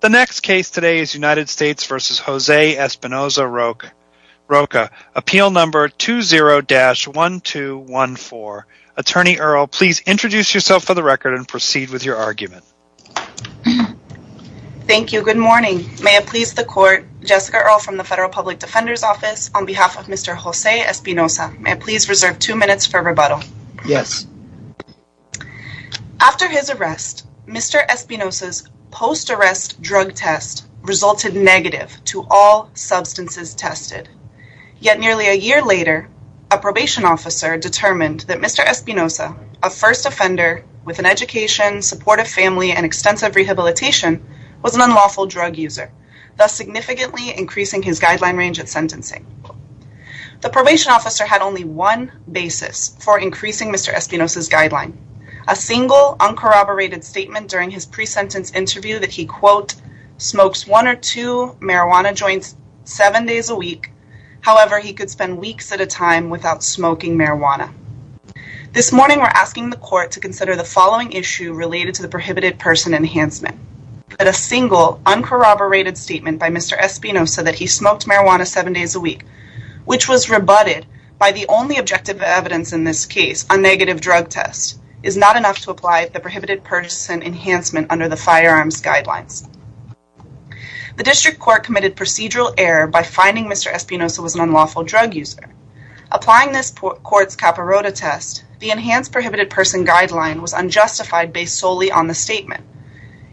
The next case today is United States v. José Espinoza-Roque. Appeal number 20-1214. Attorney Earle, please introduce yourself for the record and proceed with your argument. Thank you. Good morning. May it please the court, Jessica Earle from the Federal Public Defender's Office, on behalf of Mr. José Espinoza. May it please reserve two minutes for rebuttal. Yes. After his arrest, Mr. Espinoza's post-arrest drug test resulted negative to all substances tested. Yet nearly a year later, a probation officer determined that Mr. Espinoza, a first offender with an education, supportive family, and extensive rehabilitation, was an unlawful drug user, thus significantly increasing his guideline range at sentencing. The probation officer had only one basis for increasing Mr. Espinoza's guideline. A single, uncorroborated statement during his pre-sentence interview that he, quote, smokes one or two marijuana joints seven days a week. However, he could spend weeks at a time without smoking marijuana. This morning, we're asking the court to consider the following issue related to the prohibited person enhancement. A single, uncorroborated statement by Mr. Espinoza that he smoked marijuana seven days a week, which was rebutted by the only objective evidence in this case, a negative drug test, is not enough to apply the prohibited person enhancement under the firearms guidelines. The district court committed procedural error by finding Mr. Espinoza was an unlawful drug user. Applying this court's Capirota test, the enhanced prohibited person guideline was unjustified based solely on the statement.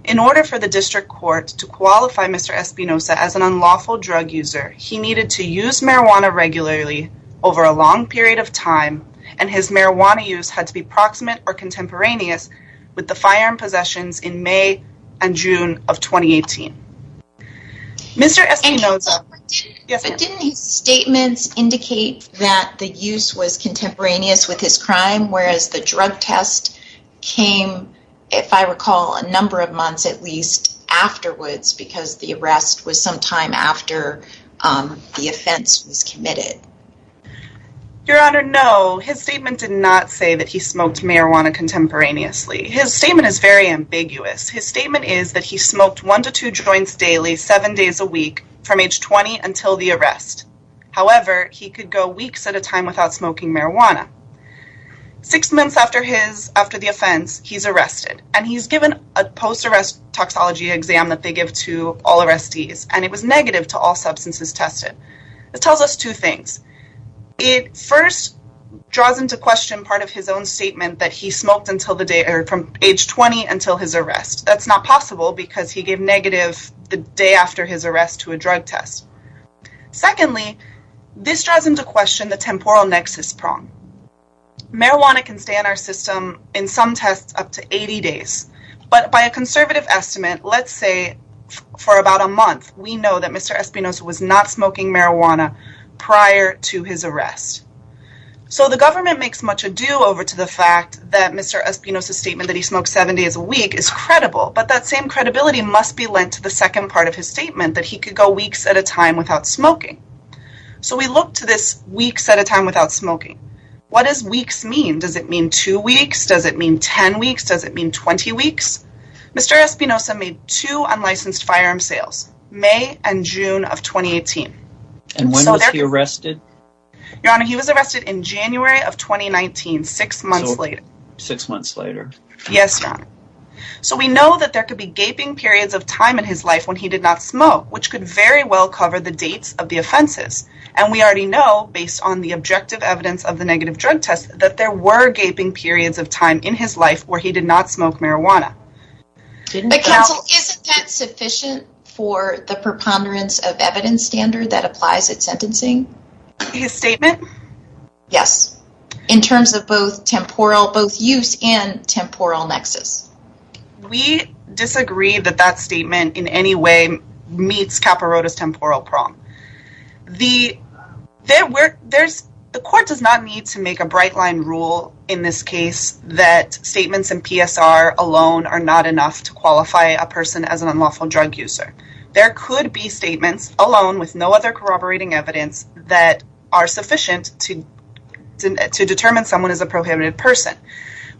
In order for the district court to qualify Mr. Espinoza as an unlawful drug user, he needed to use marijuana regularly over a long period of time, and his marijuana use had to be proximate or contemporaneous with the firearm possessions in May and June of 2018. Mr. Espinoza, didn't his statements indicate that the use was contemporaneous with his crime, whereas the drug test came, if I recall, a number of months at least afterwards, because the arrest was some time after the offense was committed? Your Honor, no. His statement did not say that he smoked marijuana contemporaneously. His statement is very ambiguous. His statement is that he smoked one to two joints daily, seven days a week, from age 20 until the arrest. However, he could go weeks at a time without smoking marijuana. Six months after the offense, he's arrested, and he's given a post-arrest toxology exam that they give to all arrestees, and it was negative to all substances tested. This tells us two things. It first draws into question part of his own statement that he smoked from age 20 until his arrest. That's not possible because he gave negative the day after his arrest to a drug test. Secondly, this draws into question the temporal nexus prong. Marijuana can stay in our system in some tests up to 80 days, but by a conservative estimate, let's say for about a month, we know that Mr. Espinosa was not smoking marijuana prior to his arrest. So the government makes much ado over to the fact that Mr. Espinosa's statement that he smoked seven days a week is credible, but that same credibility must be lent to the second part of his statement, that he could go weeks at a time without smoking. So we look to this weeks at a time without smoking. What does weeks mean? Does it mean two weeks? Does it mean 10 weeks? Does it mean 20 weeks? Mr. Espinosa made two unlicensed firearm sales, May and June of 2018. And when was he arrested? Your Honor, he was arrested in January of 2019, six months later. Six months later. Yes, Your Honor. So we know that there could be gaping periods of time in his life when he did not smoke, which could very well cover the dates of the offenses. And we already know, based on the objective evidence of the negative drug test, that there were gaping periods of time in his life where he did not smoke marijuana. Counsel, isn't that sufficient for the preponderance of evidence standard that applies at sentencing? His statement? Yes, in terms of both temporal, both use and temporal nexus. We disagree that that statement in any way meets Capirota's temporal prong. The court does not need to make a bright line rule in this case that statements in PSR alone are not enough to qualify a person as an unlawful drug user. There could be statements alone with no other corroborating evidence that are sufficient to determine someone as a prohibited person.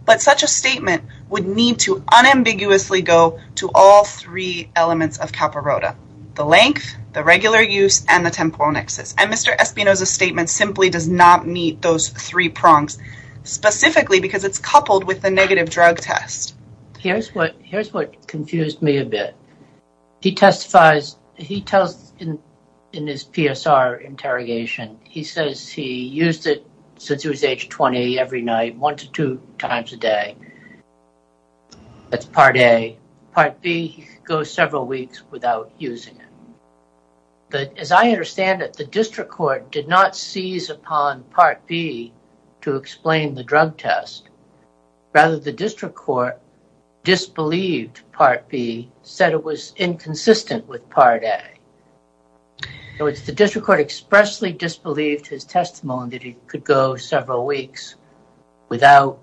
But such a statement would need to unambiguously go to all three elements of Capirota. The length, the regular use, and the temporal nexus. And Mr. Espinoza's statement simply does not meet those three prongs, specifically because it's coupled with the negative drug test. Here's what confused me a bit. He testifies, he tells in his PSR interrogation, he says he used it since he was age 20 every night, one to two times a day. That's part A. Part B, he could go several weeks without using it. But as I understand it, the district court did not seize upon part B to explain the drug test. Rather, the district court disbelieved part B, said it was inconsistent with part A. In other words, the district court expressly disbelieved his testimony that he could go several weeks without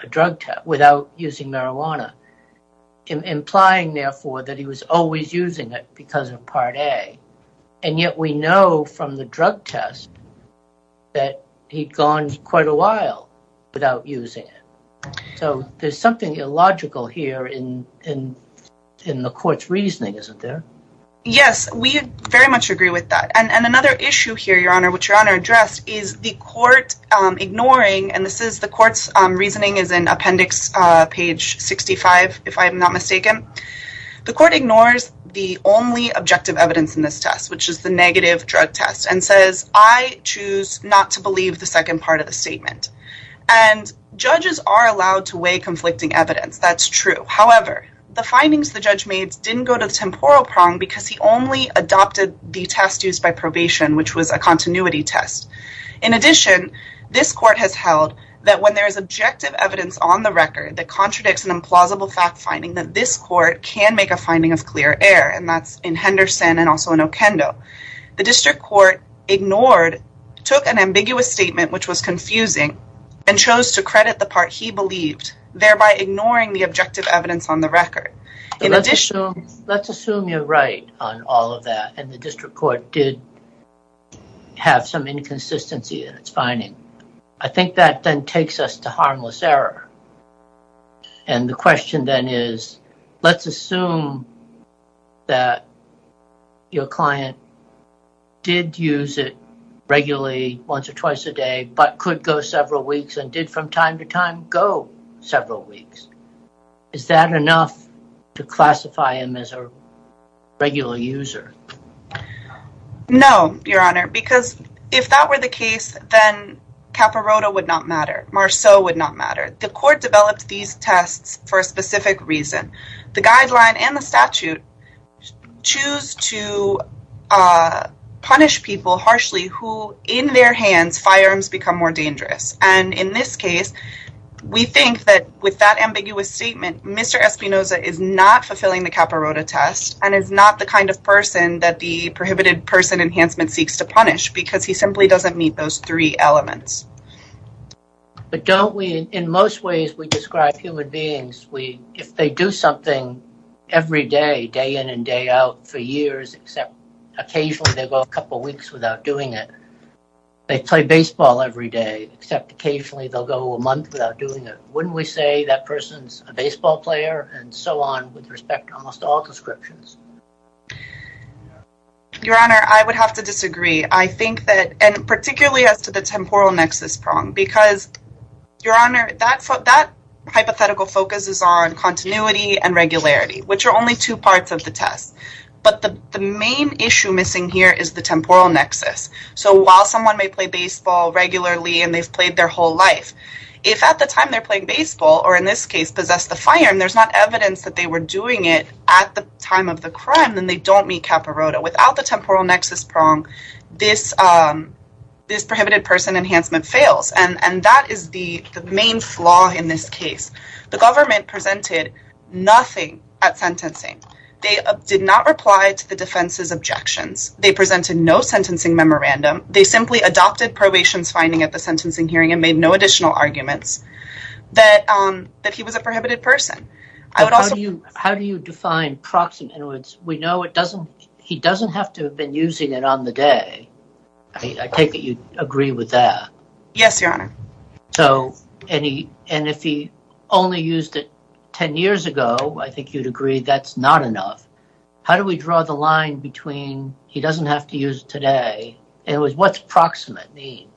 using marijuana, implying, therefore, that he was always using it because of part A. And yet we know from the drug test that he'd gone quite a while without using it. So there's something illogical here in the court's reasoning, isn't there? Yes, we very much agree with that. And another issue here, Your Honor, which Your Honor addressed, is the court ignoring, and the court's reasoning is in appendix page 65, if I'm not mistaken. The court ignores the only objective evidence in this test, which is the negative drug test, and says, I choose not to believe the second part of the statement. And judges are allowed to weigh conflicting evidence, that's true. However, the findings the judge made didn't go to the temporal prong because he only adopted the test used by probation, which was a continuity test. In addition, this court has held that when there is objective evidence on the record that contradicts an implausible fact finding, that this court can make a finding of clear error, and that's in Henderson and also in Okendo. The district court ignored, took an ambiguous statement, which was confusing, and chose to credit the part he believed, thereby ignoring the objective evidence on the record. Let's assume you're right on all of that, and the district court did have some inconsistency in its finding. I think that then takes us to harmless error. And the question then is, let's assume that your client did use it regularly, once or twice a day, but could go several weeks, and did from time to time go several weeks. Is that enough to classify him as a regular user? No, your honor, because if that were the case, then Caporoto would not matter, Marceau would not matter. The court developed these tests for a specific reason. The guideline and the statute choose to punish people harshly who, in their hands, firearms become more dangerous. And in this case, we think that with that ambiguous statement, Mr. Espinoza is not fulfilling the Caporoto test, and is not the kind of person that the prohibited person enhancement seeks to punish, because he simply doesn't meet those three elements. But don't we, in most ways, we describe human beings, if they do something every day, day in and day out, for years, except occasionally they go a couple weeks without doing it. They play baseball every day, except occasionally they'll go a month without doing it. Wouldn't we say that person's a baseball player, and so on, with respect to almost all descriptions? Your honor, I would have to disagree. I think that, and particularly as to the temporal nexus prong, because, your honor, that hypothetical focuses on continuity and regularity, which are only two parts of the test. But the main issue missing here is the temporal nexus. So while someone may play baseball regularly, and they've played their whole life, if at the time they're playing baseball, or in this case, possess the firearm, there's not evidence that they were doing it at the time of the crime, then they don't meet Caporoto. Without the temporal nexus prong, this prohibited person enhancement fails. And that is the main flaw in this case. The government presented nothing at sentencing. They did not reply to the defense's objections. They presented no sentencing memorandum. They simply adopted probation's finding at the sentencing hearing and made no additional arguments that he was a prohibited person. How do you define proximate? We know he doesn't have to have been using it on the day. I take it you agree with that. Yes, your honor. And if he only used it ten years ago, I think you'd agree that's not enough. How do we draw the line between he doesn't have to use it today? What does proximate mean?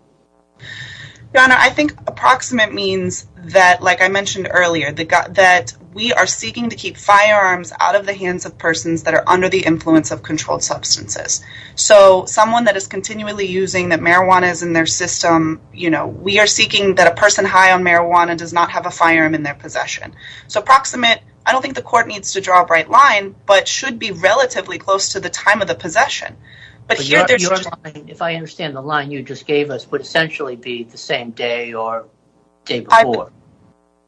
Your honor, I think approximate means that, like I mentioned earlier, that we are seeking to keep firearms out of the hands of persons that are under the influence of controlled substances. So someone that is continually using that marijuana is in their system, we are seeking that a person high on marijuana does not have a firearm in their possession. So proximate, I don't think the court needs to draw a bright line, but should be relatively close to the time of the possession. If I understand the line you just gave us would essentially be the same day or day before.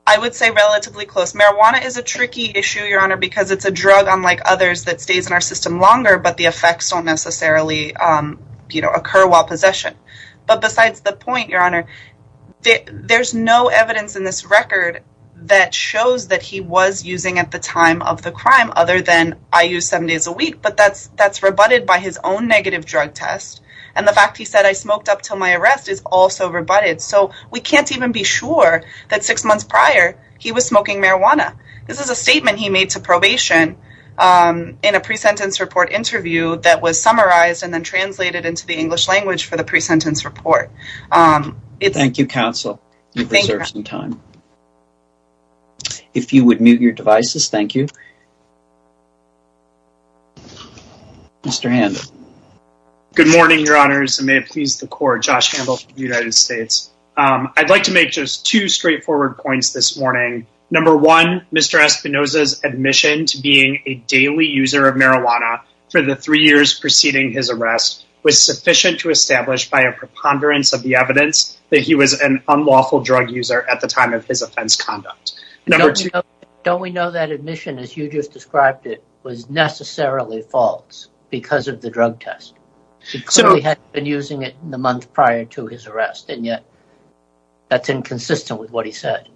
I would say relatively close. Marijuana is a tricky issue, your honor, because it's a drug unlike others that stays in our system longer, but the effects don't necessarily occur while possession. But besides the point, your honor, there's no evidence in this record that shows that he was using at the time of the crime other than I use seven days a week, but that's rebutted by his own negative drug test. And the fact he said, I smoked up till my arrest is also rebutted. So we can't even be sure that six months prior he was smoking marijuana. This is a statement he made to probation in a pre-sentence report interview that was summarized and then translated into the English language for the pre-sentence report. Thank you, counsel. You preserved some time. If you would mute your devices, thank you. Mr. Handle. Good morning, your honors, and may it please the court. Josh Handle from the United States. I'd like to make just two straightforward points this morning. Number one, Mr. Espinosa's admission to being a daily user of marijuana for the three years preceding his arrest was sufficient to establish by a preponderance of the evidence that he was an unlawful drug user at the time of his offense conduct. Don't we know that admission, as you just described it, was necessarily false because of the drug test? He clearly hadn't been using it in the months prior to his arrest, and yet that's inconsistent with what he said.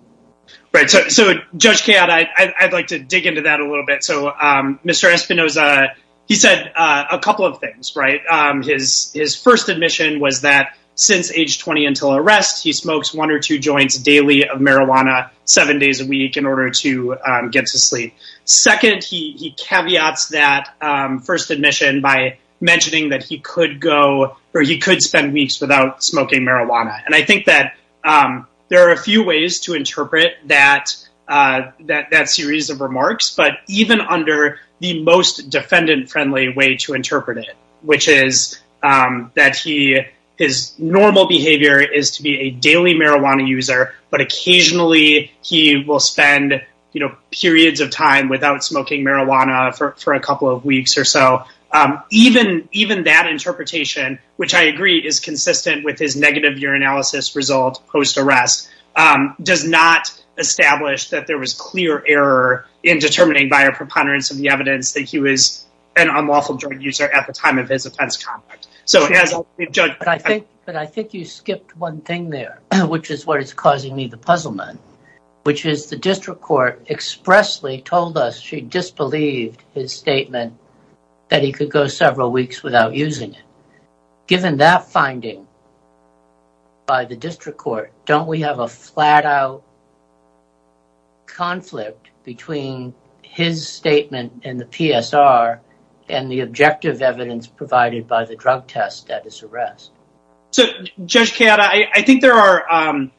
Right. So, Judge Kayotte, I'd like to dig into that a little bit. So, Mr. Espinosa, he said a couple of things, right? His first admission was that since age 20 until arrest, he smokes one or two joints daily of marijuana seven days a week in order to get to sleep. Second, he caveats that first admission by mentioning that he could go, or he could spend weeks without smoking marijuana. And I think that there are a few ways to interpret that series of remarks, but even under the most defendant-friendly way to interpret it, which is that his normal behavior is to be a daily marijuana user, but occasionally he will spend periods of time without smoking marijuana for a couple of weeks or so. Even that interpretation, which I agree is consistent with his negative urinalysis result post-arrest, does not establish that there was clear error in determining by a preponderance of the evidence that he was an unlawful drug user at the time of his offense. But I think you skipped one thing there, which is what is causing me the puzzlement, which is the district court expressly told us she disbelieved his statement that he could go several weeks without using it. Given that finding by the district court, don't we have a flat-out conflict between his statement in the PSR and the objective evidence provided by the drug test at his arrest? So, Judge Keada, I think there are,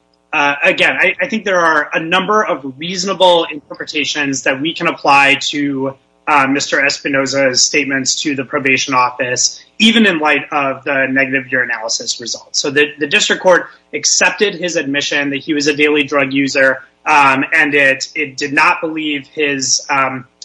again, I think there are a number of reasonable interpretations that we can apply to Mr. Espinoza's statements to the probation office, even in light of the negative urinalysis result. So the district court accepted his admission that he was a daily drug user, and it did not believe his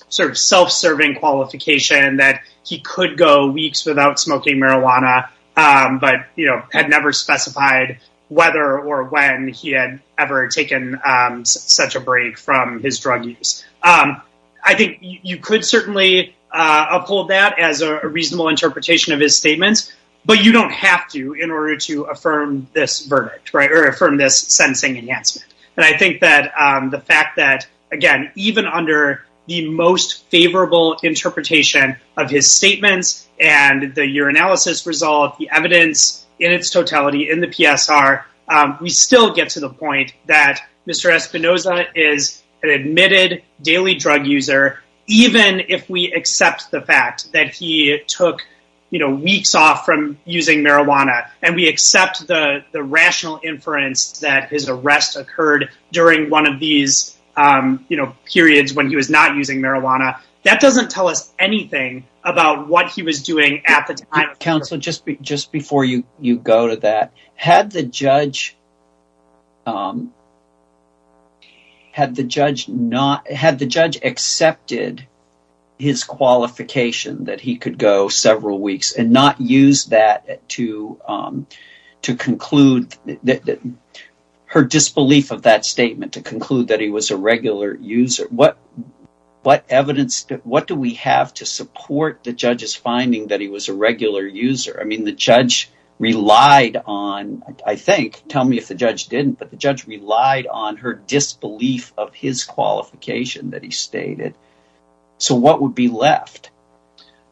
self-serving qualification that he could go weeks without smoking marijuana, but had never specified whether or when he had ever taken such a break from his drug use. I think you could certainly uphold that as a reasonable interpretation of his statements, but you don't have to in order to affirm this verdict or affirm this sentencing enhancement. And I think that the fact that, again, even under the most favorable interpretation of his statements and the urinalysis result, the evidence in its totality in the PSR, we still get to the point that Mr. Espinoza is an admitted daily drug user, even if we accept the fact that he took weeks off from using marijuana, and we accept the rational inference that his arrest occurred during one of these periods when he was not using marijuana. That doesn't tell us anything about what he was doing at the time. Counsel, just before you go to that, had the judge accepted his qualification that he could go several weeks and not used her disbelief of that statement to conclude that he was a regular user, what evidence, what do we have to support the judge's finding that he was a regular user? I mean, the judge relied on, I think, tell me if the judge didn't, but the judge relied on her disbelief of his qualification that he stated. So what would be left?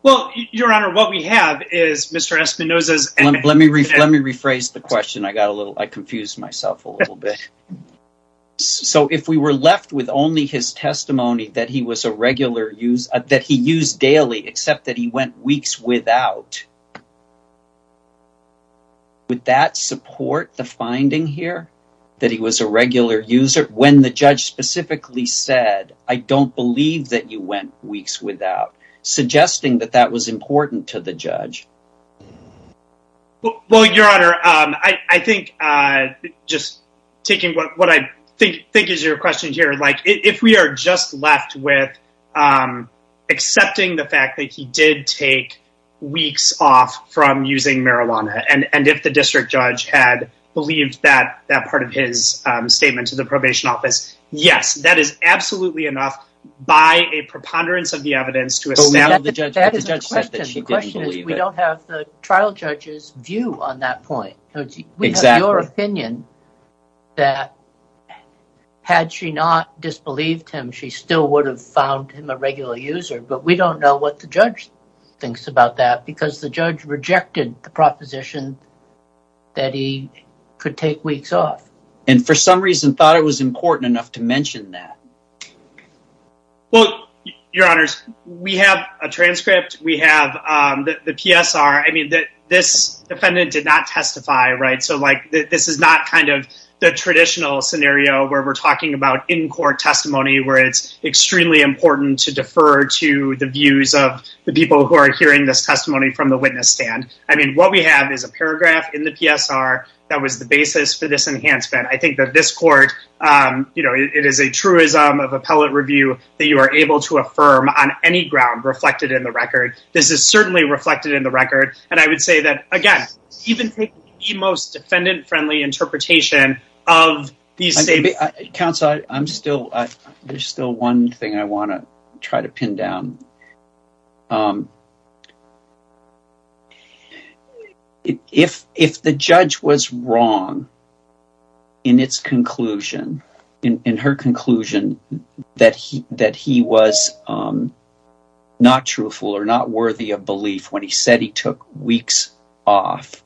Well, Your Honor, what we have is Mr. Espinoza's... Let me rephrase the question. I got a little, I confused myself a little bit. So if we were left with only his testimony that he was a regular user, that he used daily, except that he went weeks without, would that support the finding here, that he was a regular user when the judge specifically said, I don't believe that you went weeks without, suggesting that that was important to the judge? Well, Your Honor, I think just taking what I think is your question here, like if we are just left with accepting the fact that he did take weeks off from using marijuana, and if the district judge had believed that part of his statement to the probation office, yes, that is absolutely enough by a preponderance of the evidence to establish... The question is, we don't have the trial judge's view on that point. We have your opinion that had she not disbelieved him, she still would have found him a regular user, but we don't know what the judge thinks about that, because the judge rejected the proposition that he could take weeks off. And for some reason thought it was important enough to mention that. Well, Your Honors, we have a transcript. We have the PSR. I mean, this defendant did not testify, right? So like this is not kind of the traditional scenario where we're talking about in-court testimony, where it's extremely important to defer to the views of the people who are hearing this testimony from the witness stand. I mean, what we have is a paragraph in the PSR that was the basis for this enhancement. I think that this court, you know, it is a truism of appellate review that you are able to affirm on any ground reflected in the record. This is certainly reflected in the record. And I would say that, again, even the most defendant-friendly interpretation of these statements... In its conclusion, in her conclusion that he was not truthful or not worthy of belief when he said he took weeks off,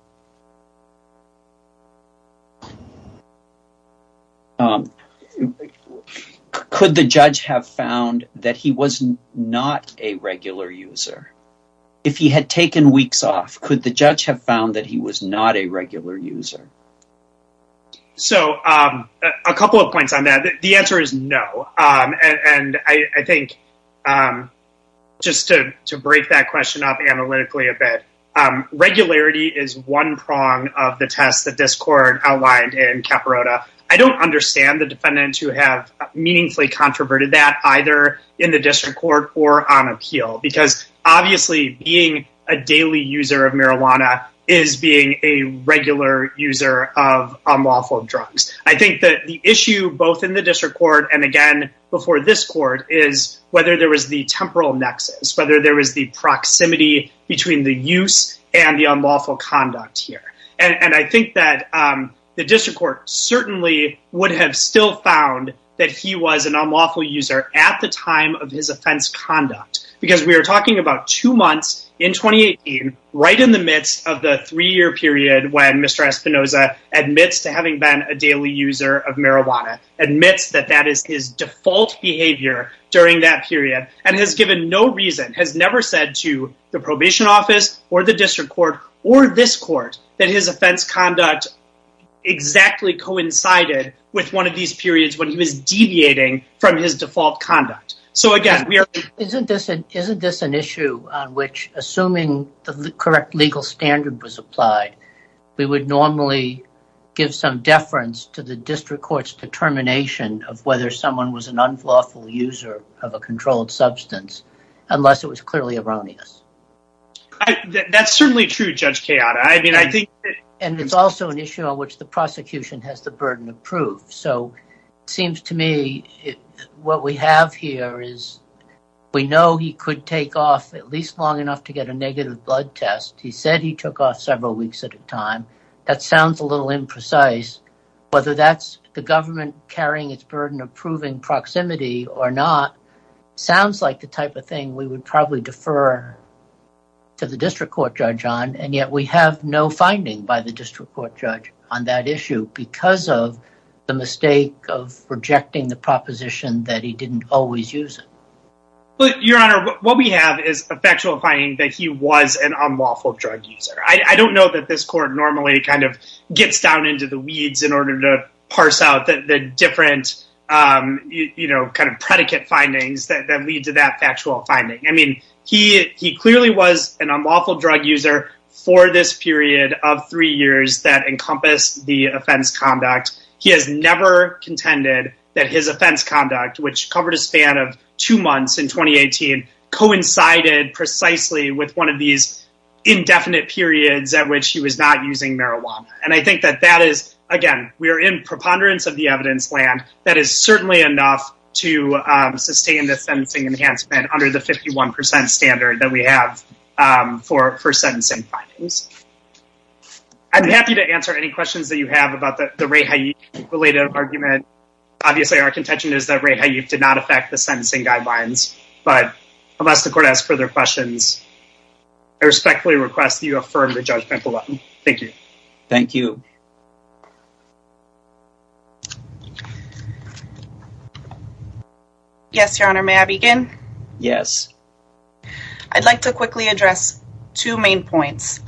could the judge have found that he was not a regular user? If he had taken weeks off, could the judge have found that he was not a regular user? So a couple of points on that. The answer is no. And I think just to break that question up analytically a bit, regularity is one prong of the test that this court outlined in Capirota. I don't understand the defendants who have meaningfully controverted that either in the district court or on appeal, because obviously being a daily user of marijuana is being a regular user of unlawful drugs. I think that the issue both in the district court and again before this court is whether there was the temporal nexus, whether there was the proximity between the use and the unlawful conduct here. And I think that the district court certainly would have still found that he was an unlawful user at the time of his offense conduct, because we are talking about two months in 2018, right in the midst of the three-year period when Mr. Espinoza admits to having been a daily user of marijuana, admits that that is his default behavior during that period, and has given no reason, has never said to the probation office or the district court or this court, that his offense conduct exactly coincided with one of these periods when he was deviating from his default conduct. Isn't this an issue on which, assuming the correct legal standard was applied, we would normally give some deference to the district court's determination of whether someone was an unlawful user of a controlled substance, unless it was clearly erroneous? That's certainly true, Judge Chiara. And it's also an issue on which the prosecution has the burden of proof. So it seems to me what we have here is we know he could take off at least long enough to get a negative blood test. He said he took off several weeks at a time. That sounds a little imprecise. Whether that's the government carrying its burden of proving proximity or not sounds like the type of thing we would probably defer to the district court judge on. And yet we have no finding by the district court judge on that issue because of the mistake of rejecting the proposition that he didn't always use it. Your Honor, what we have is a factual finding that he was an unlawful drug user. I don't know that this court normally kind of gets down into the weeds in order to parse out the different, you know, kind of predicate findings that lead to that factual finding. I mean, he clearly was an unlawful drug user for this period of three years that encompassed the offense conduct. He has never contended that his offense conduct, which covered a span of two months in 2018, coincided precisely with one of these indefinite periods at which he was not using marijuana. And I think that that is, again, we are in preponderance of the evidence land. That is certainly enough to sustain the sentencing enhancement under the 51% standard that we have for sentencing findings. I'm happy to answer any questions that you have about the Ray Hayek-related argument. Obviously, our contention is that Ray Hayek did not affect the sentencing guidelines. But unless the court has further questions, I respectfully request that you affirm the judgment below. Thank you. Thank you. Yes, Your Honor, may I begin? Yes. I'd like to quickly address two main points.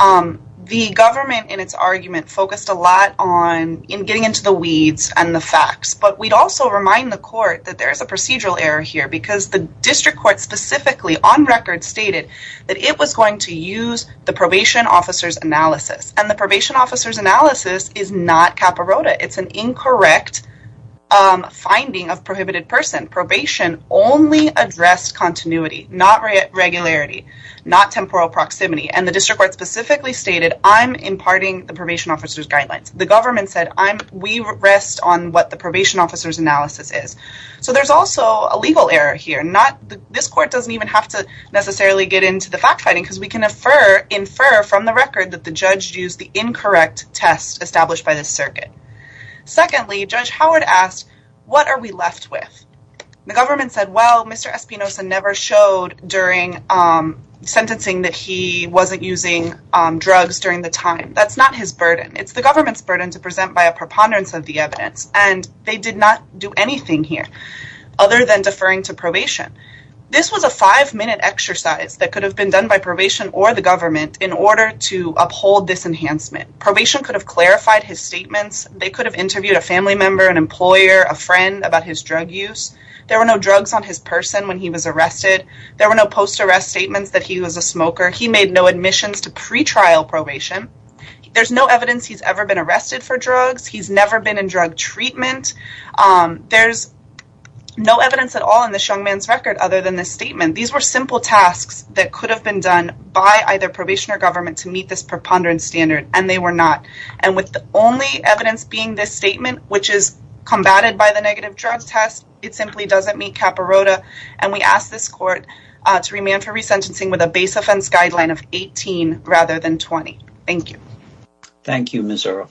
The government, in its argument, focused a lot on getting into the weeds and the facts. But we'd also remind the court that there is a procedural error here because the district court specifically, on record, stated that it was going to use the probation officer's analysis. And the probation officer's analysis is not CAPA ROTA. It's an incorrect finding of prohibited person. Probation only addressed continuity, not regularity, not temporal proximity. And the district court specifically stated, I'm imparting the probation officer's guidelines. The government said, we rest on what the probation officer's analysis is. So there's also a legal error here. This court doesn't even have to necessarily get into the fact-finding because we can infer from the record that the judge used the incorrect test established by the circuit. Secondly, Judge Howard asked, what are we left with? The government said, well, Mr. Espinoza never showed during sentencing that he wasn't using drugs during the time. That's not his burden. It's the government's burden to present by a preponderance of the evidence. And they did not do anything here other than deferring to probation. This was a five-minute exercise that could have been done by probation or the government in order to uphold this enhancement. Probation could have clarified his statements. They could have interviewed a family member, an employer, a friend about his drug use. There were no drugs on his person when he was arrested. There were no post-arrest statements that he was a smoker. He made no admissions to pretrial probation. There's no evidence he's ever been arrested for drugs. He's never been in drug treatment. There's no evidence at all in this young man's record other than this statement. These were simple tasks that could have been done by either probation or government to meet this preponderance standard, and they were not. And with the only evidence being this statement, which is combated by the negative drug test, it simply doesn't meet CAPA ROTA. And we ask this court to remand for resentencing with a base offense guideline of 18 rather than 20. Thank you. Thank you, Ms. Earle.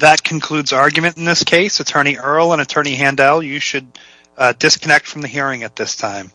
That concludes argument in this case. Attorney Earle and Attorney Handel, you should disconnect from the hearing at this time.